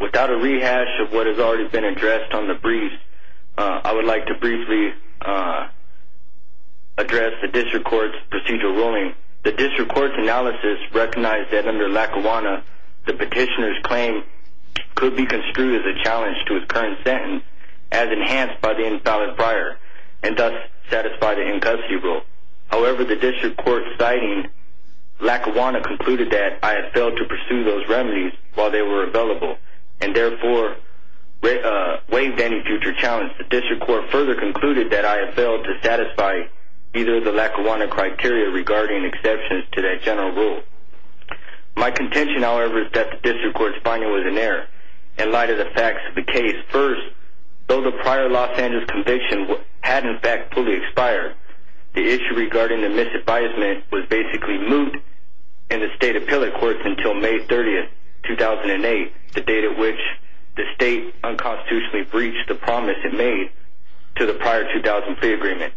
Without a rehash of what has already been addressed on the brief, I would like to briefly address the District Court's procedural ruling. The District Court's analysis recognized that under Lackawanna, the petitioner's claim could be construed as a challenge to his current sentence, as enhanced by the invalid prior, and thus satisfy the in-custody rule. However, the District Court's citing Lackawanna concluded that I had failed to pursue those remedies while they were available, and therefore waived any future challenge. The District Court further concluded that I had failed to satisfy either of the Lackawanna criteria regarding exceptions to that general rule. My contention, however, is that the District Court's finding was in error. In light of the facts of the case, first, though the prior Los Angeles conviction had in fact fully expired, the issue regarding the misadvisement was basically moot in the State Appellate Courts until May 30, 2008, the date at which the State unconstitutionally breached the promise it made to the prior 2003 agreement,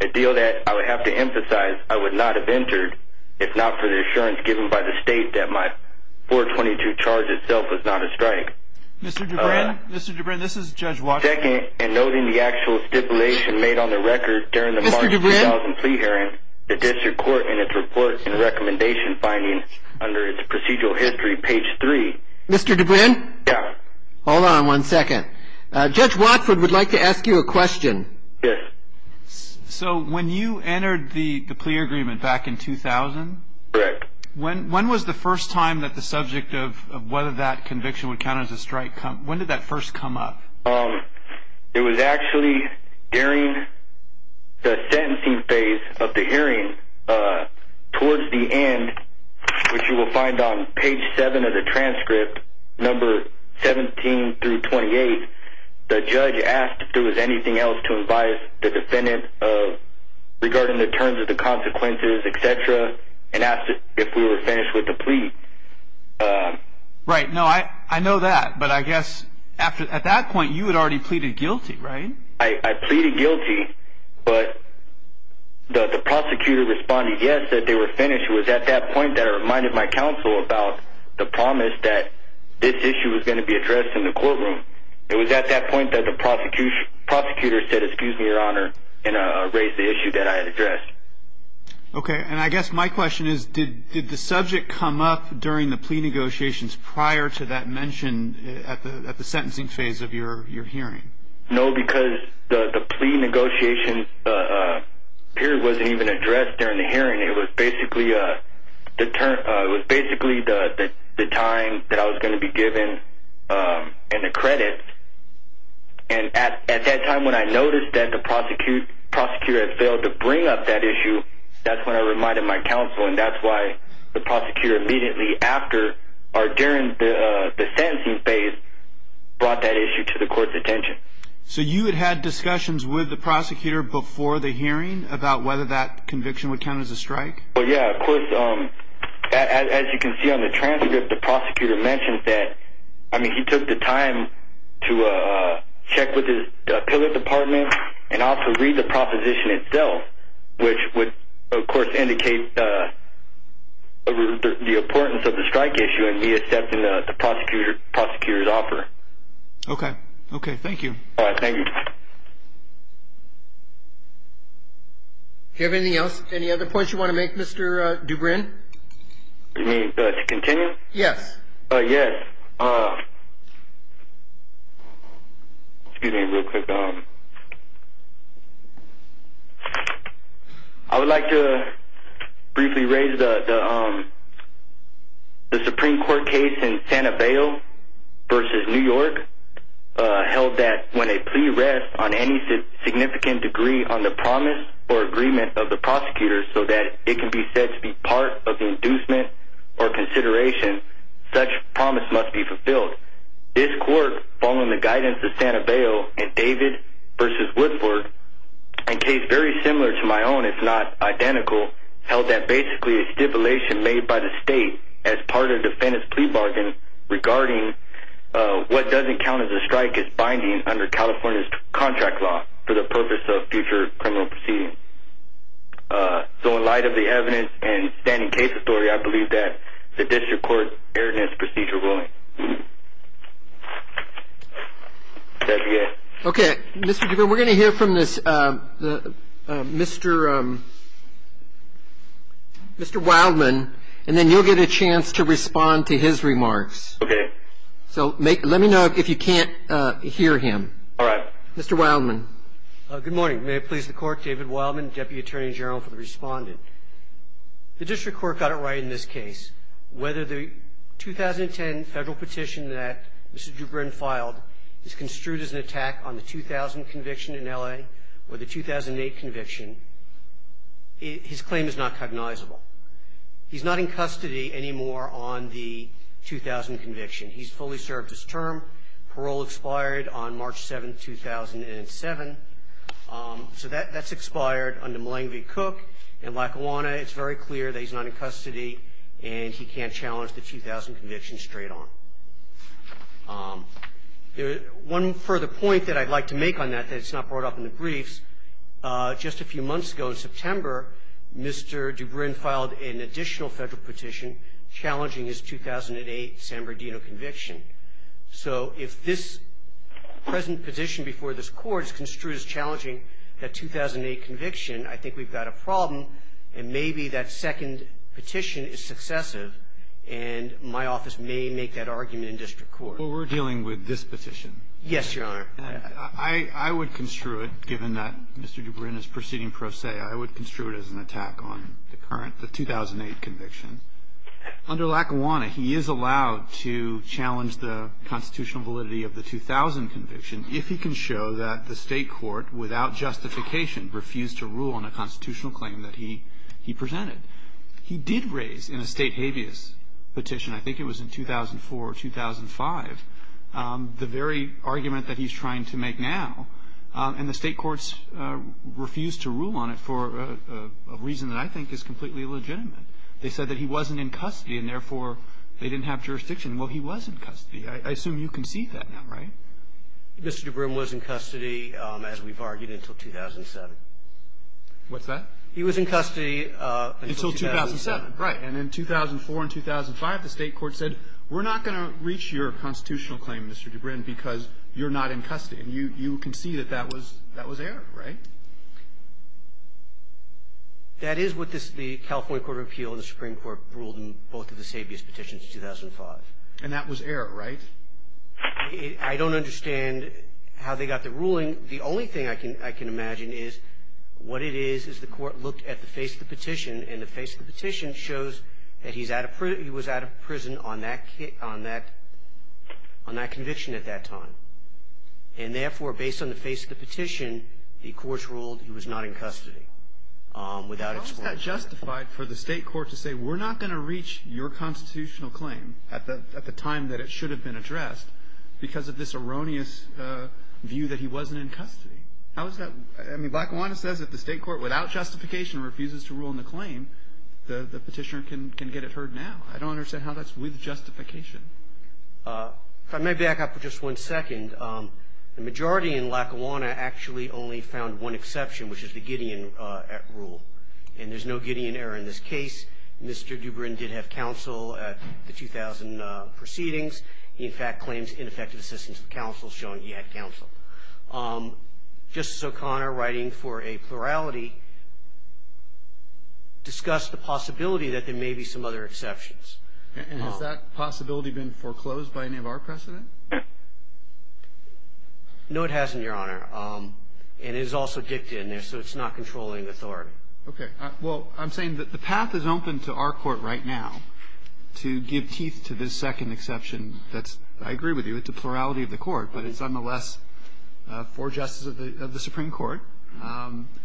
a deal that, I would have to emphasize, I would not have entered if not for the assurance given by the State that my 422 charge itself was not a strike. Second, in noting the actual stipulation made on the record during the March 2000 plea hearing, the District Court in its report and recommendation finding under its procedural history, page 3, Hold on one second. Judge Watford would like to ask you a question. Yes. So when you entered the plea agreement back in 2000, when was the first time that the subject of whether that conviction would count as a strike, when did that first come up? It was actually during the sentencing phase of the hearing. Towards the end, which you will find on page 7 of the transcript, number 17 through 28, the judge asked if there was anything else to advise the defendant regarding the terms of the consequences, etc., and asked if we were finished with the plea. Right. No, I know that, but I guess at that point you had already pleaded guilty, right? I pleaded guilty, but the prosecutor responded yes, that they were finished. It was at that point that I reminded my counsel about the promise that this issue was going to be addressed in the courtroom. It was at that point that the prosecutor said, excuse me, Your Honor, and raised the issue that I had addressed. Okay, and I guess my question is, did the subject come up during the plea negotiations prior to that mention at the sentencing phase of your hearing? No, because the plea negotiation period wasn't even addressed during the hearing. It was basically the time that I was going to be given and the credits. At that time when I noticed that the prosecutor had failed to bring up that issue, that's when I reminded my counsel, and that's why the prosecutor immediately after or during the sentencing phase brought that issue to the court's attention. So you had had discussions with the prosecutor before the hearing about whether that conviction would count as a strike? Well, yeah, of course. As you can see on the transcript, the prosecutor mentioned that he took the time to check with his appellate department and also read the proposition itself, which would, of course, indicate the importance of the strike issue and me accepting the prosecutor's offer. Okay. Okay, thank you. Thank you. Do you have anything else, any other points you want to make, Mr. Dubrin? You mean to continue? Yes. Yes. Excuse me real quick. I would like to briefly raise the Supreme Court case in Santa Fe versus New York held that when a plea rests on any significant degree on the promise or agreement of the prosecutor so that it can be said to be part of the inducement or consideration, such promise must be fulfilled. This court, following the guidance of Santa Fe and David versus Woodford, a case very similar to my own, if not identical, held that basically a stipulation made by the state as part of the defendant's plea bargain regarding what doesn't count as a strike is binding under California's contract law for the purpose of future criminal proceedings. So in light of the evidence and standing case story, I believe that the district court erred in its procedural ruling. Okay. Mr. Dubrin, we're going to hear from Mr. Wildman, and then you'll get a chance to respond to his remarks. Okay. So let me know if you can't hear him. All right. Mr. Wildman. Good morning. May it please the court, David Wildman, Deputy Attorney General for the respondent. The district court got it right in this case. Whether the 2010 federal petition that Mr. Dubrin filed is construed as an attack on the 2000 conviction in L.A. or the 2008 conviction, his claim is not cognizable. He's not in custody anymore on the 2000 conviction. He's fully served his term. Parole expired on March 7th, 2007. So that's expired under Malangvi Cook in Lackawanna. It's very clear that he's not in custody, and he can't challenge the 2000 conviction straight on. One further point that I'd like to make on that that's not brought up in the briefs, just a few months ago in September, Mr. Dubrin filed an additional federal petition challenging his 2008 San Bernardino conviction. So if this present petition before this Court is construed as challenging that 2008 conviction, I think we've got a problem, and maybe that second petition is successive, and my office may make that argument in district court. Well, we're dealing with this petition. Yes, Your Honor. I would construe it, given that Mr. Dubrin is proceeding pro se, I would construe it as an attack on the 2008 conviction. Under Lackawanna, he is allowed to challenge the constitutional validity of the 2000 conviction if he can show that the state court, without justification, refused to rule on a constitutional claim that he presented. He did raise in a state habeas petition, I think it was in 2004 or 2005, the very argument that he's trying to make now, and the state courts refused to rule on it for a reason that I think is completely illegitimate. They said that he wasn't in custody and, therefore, they didn't have jurisdiction. Well, he was in custody. I assume you can see that now, right? Mr. Dubrin was in custody, as we've argued, until 2007. What's that? He was in custody until 2007. Until 2007, right. And in 2004 and 2005, the state court said, we're not going to reach your constitutional claim, Mr. Dubrin, because you're not in custody. And you can see that that was error, right? That is what the California Court of Appeal and the Supreme Court ruled in both of the state habeas petitions in 2005. And that was error, right? I don't understand how they got the ruling. The only thing I can imagine is what it is is the court looked at the face of the petition, and the face of the petition shows that he was out of prison on that conviction at that time. And, therefore, based on the face of the petition, the courts ruled he was not in custody. How is that justified for the state court to say, we're not going to reach your constitutional claim at the time that it should have been addressed, because of this erroneous view that he wasn't in custody? How is that? I mean, Lackawanna says if the state court, without justification, refuses to rule in the claim, the petitioner can get it heard now. I don't understand how that's with justification. If I may back up for just one second, the majority in Lackawanna actually only found one exception, which is the Gideon rule. And there's no Gideon error in this case. Mr. Dubrin did have counsel at the 2000 proceedings. He, in fact, claims ineffective assistance with counsel, showing he had counsel. Justice O'Connor, writing for a plurality, discussed the possibility that there may be some other exceptions. And has that possibility been foreclosed by any of our precedent? No, it hasn't, Your Honor. And it is also dictated in there, so it's not controlling authority. Okay. Well, I'm saying that the path is open to our court right now to give teeth to this second exception that's, I agree with you, it's a plurality of the court, but it's nonetheless for justice of the Supreme Court,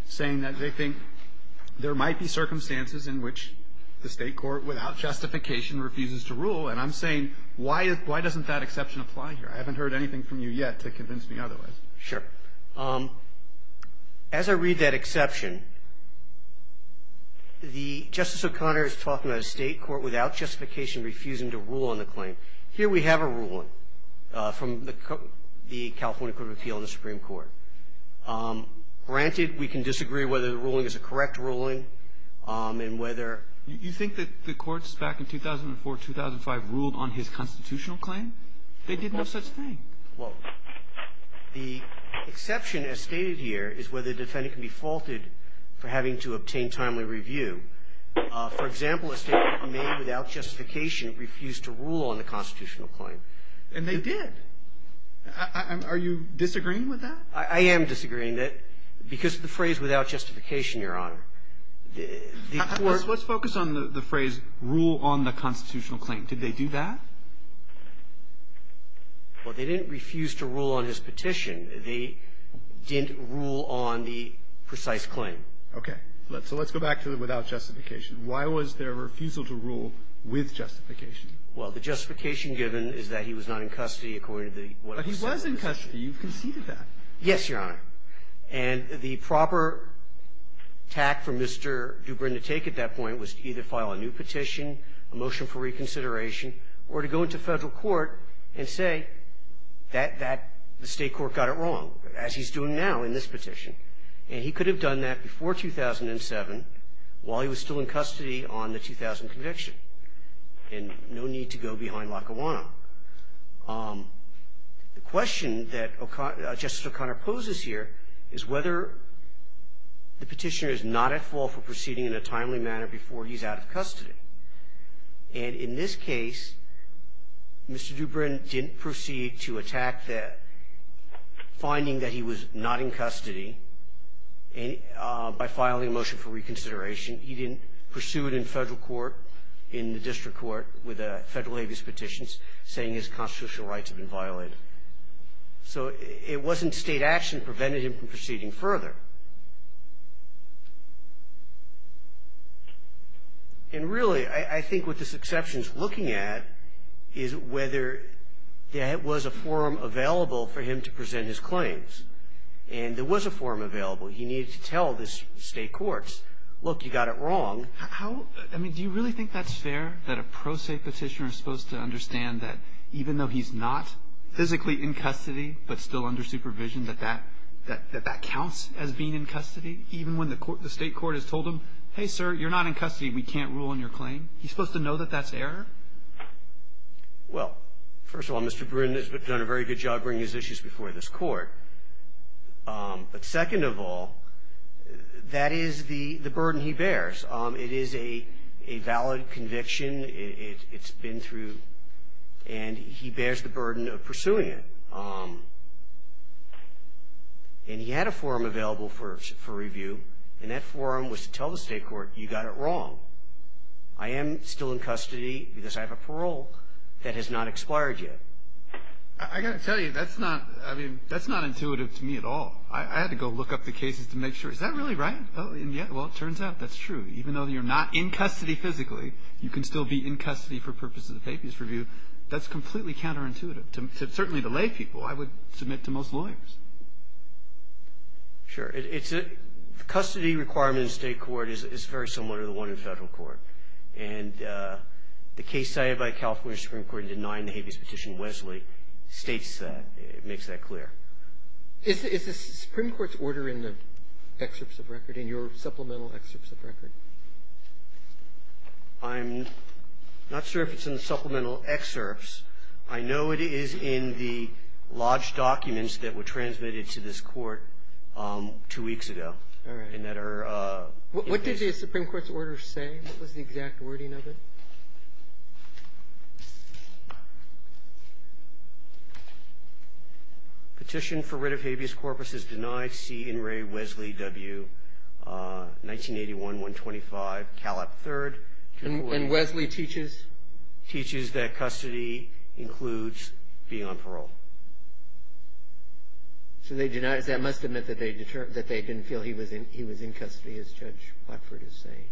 saying that they think there might be circumstances in which the state court, without justification, refuses to rule. And I'm saying, why doesn't that exception apply here? I haven't heard anything from you yet to convince me otherwise. Sure. As I read that exception, Justice O'Connor is talking about a state court, without justification, refusing to rule on the claim. Here we have a ruling from the California Court of Appeal and the Supreme Court. Granted, we can disagree whether the ruling is a correct ruling and whether ---- You think that the courts back in 2004, 2005 ruled on his constitutional claim? They did no such thing. Well, the exception, as stated here, is whether the defendant can be faulted for having to obtain timely review. For example, a state court may, without justification, refuse to rule on the constitutional claim. And they did. Are you disagreeing with that? I am disagreeing. Because the phrase, without justification, Your Honor, the court ---- Let's focus on the phrase, rule on the constitutional claim. Did they do that? Well, they didn't refuse to rule on his petition. They didn't rule on the precise claim. Okay. So let's go back to the without justification. Why was there a refusal to rule with justification? Well, the justification given is that he was not in custody according to the ---- But he was in custody. You've conceded that. Yes, Your Honor. And the proper tact for Mr. Dubrin to take at that point was to either file a new petition, a motion for reconsideration, or to go into Federal court and say that that the state court got it wrong, as he's doing now in this petition. And he could have done that before 2007 while he was still in custody on the 2000 conviction and no need to go behind Lackawanna. The question that Justice O'Connor poses here is whether the petitioner is not at fault for proceeding in a timely manner before he's out of custody. And in this case, Mr. Dubrin didn't proceed to attack the finding that he was not in custody by filing a motion for reconsideration. He didn't pursue it in Federal court, in the district court with a Federal habeas petition saying his constitutional rights have been violated. So it wasn't state action that prevented him from proceeding further. And really, I think what this exception is looking at is whether there was a forum available for him to present his claims. And there was a forum available. He needed to tell the state courts, look, you got it wrong. How do you really think that's fair that a pro se petitioner is supposed to understand that even though he's not physically in custody but still under supervision, that that counts as being in custody, even when the state court has told him, hey, sir, you're not in custody. We can't rule on your claim. He's supposed to know that that's error? Well, first of all, Mr. Dubrin has done a very good job bringing his issues before this Court. But second of all, that is the burden he bears. It is a valid conviction. It's been through. And he bears the burden of pursuing it. And he had a forum available for review, and that forum was to tell the state court, you got it wrong. I am still in custody because I have a parole that has not expired yet. I got to tell you, that's not intuitive to me at all. I had to go look up the cases to make sure. Is that really right? Yeah, well, it turns out that's true. Even though you're not in custody physically, you can still be in custody for purposes of habeas review. That's completely counterintuitive, certainly to lay people. I would submit to most lawyers. Sure. The custody requirement in state court is very similar to the one in federal court. And the case cited by California Supreme Court in denying the habeas petition, Wesley, states that, makes that clear. Is the Supreme Court's order in the excerpts of record, in your supplemental excerpts of record? I'm not sure if it's in the supplemental excerpts. I know it is in the lodged documents that were transmitted to this court two weeks ago. All right. What did the Supreme Court's order say? What was the exact wording of it? Petition for writ of habeas corpus is denied. C. Inray, Wesley, W. 1981, 125, Calop, III. And Wesley teaches? Teaches that custody includes being on parole. So they deny it. That must have meant that they didn't feel he was in custody, as Judge Blackford is saying.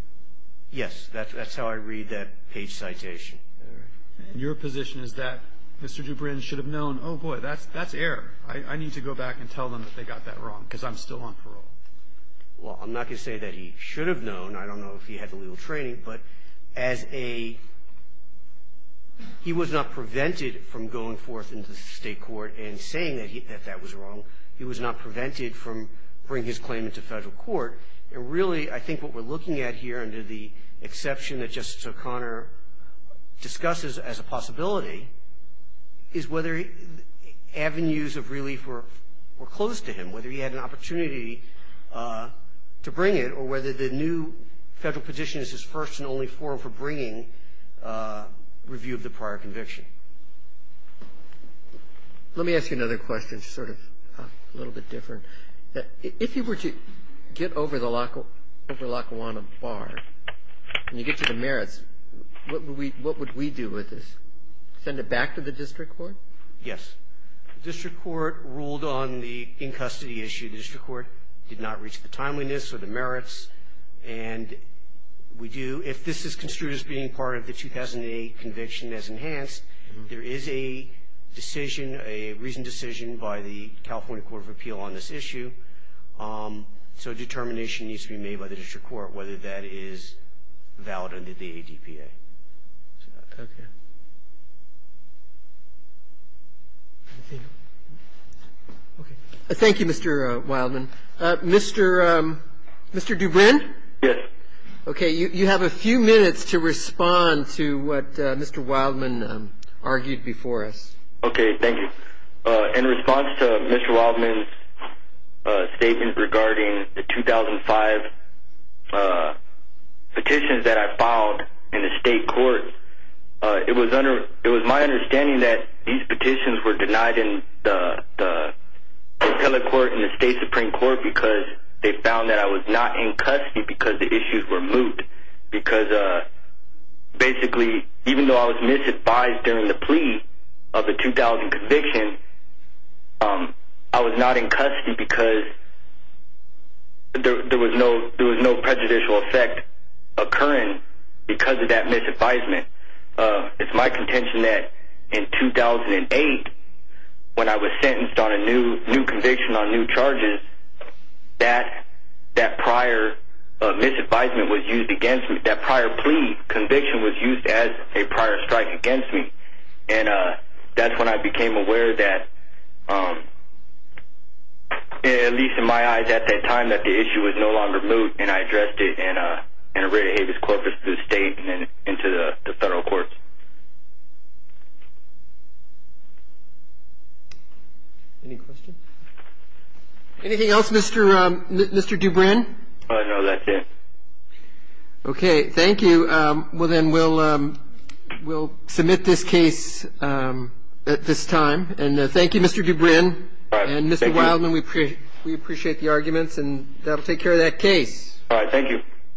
Yes. That's how I read that page citation. All right. And your position is that Mr. Dubrin should have known, oh, boy, that's error. I need to go back and tell them that they got that wrong, because I'm still on parole. Well, I'm not going to say that he should have known. I don't know if he had the legal training. But as a he was not prevented from going forth into state court and saying that that was wrong. He was not prevented from bringing his claim into federal court. And really, I think what we're looking at here under the exception that Justice O'Connor discusses as a possibility is whether avenues of relief were close to him, whether he had an opportunity to bring it, or whether the new federal position is his first and only forum for bringing review of the prior conviction. Let me ask you another question, sort of a little bit different. If he were to get over the Lackawanna Bar and you get to the merits, what would we do with this? Send it back to the district court? Yes. The district court ruled on the in-custody issue. The district court did not reach the timeliness or the merits. And we do. If this is construed as being part of the 2008 conviction as enhanced, there is a decision, a recent decision by the California Court of Appeal on this issue. So a determination needs to be made by the district court whether that is valid under the ADPA. Okay. Thank you, Mr. Wildman. Mr. Dubrin? Yes. Okay. You have a few minutes to respond to what Mr. Wildman argued before us. Okay. Thank you. In response to Mr. Wildman's statement regarding the 2005 petitions that I filed in the state court, it was my understanding that these petitions were denied in the appellate court and the state supreme court because they found that I was not in custody because the issues were moot. Basically, even though I was misadvised during the plea of the 2000 conviction, I was not in custody because there was no prejudicial effect occurring because of that misadvisement. It's my contention that in 2008, when I was sentenced on a new conviction on new charges, that prior misadvisement was used against me. That prior plea conviction was used as a prior strike against me, and that's when I became aware that, at least in my eyes at that time, that the issue was no longer moot, and I addressed it in a writ of habeas corpus to the state and then into the federal courts. Any questions? Anything else, Mr. Dubrin? No, that's it. Okay. Thank you. Well, then we'll submit this case at this time, and thank you, Mr. Dubrin. All right. Thank you. And, Mr. Wildman, we appreciate the arguments, and that'll take care of that case. All right. Thank you.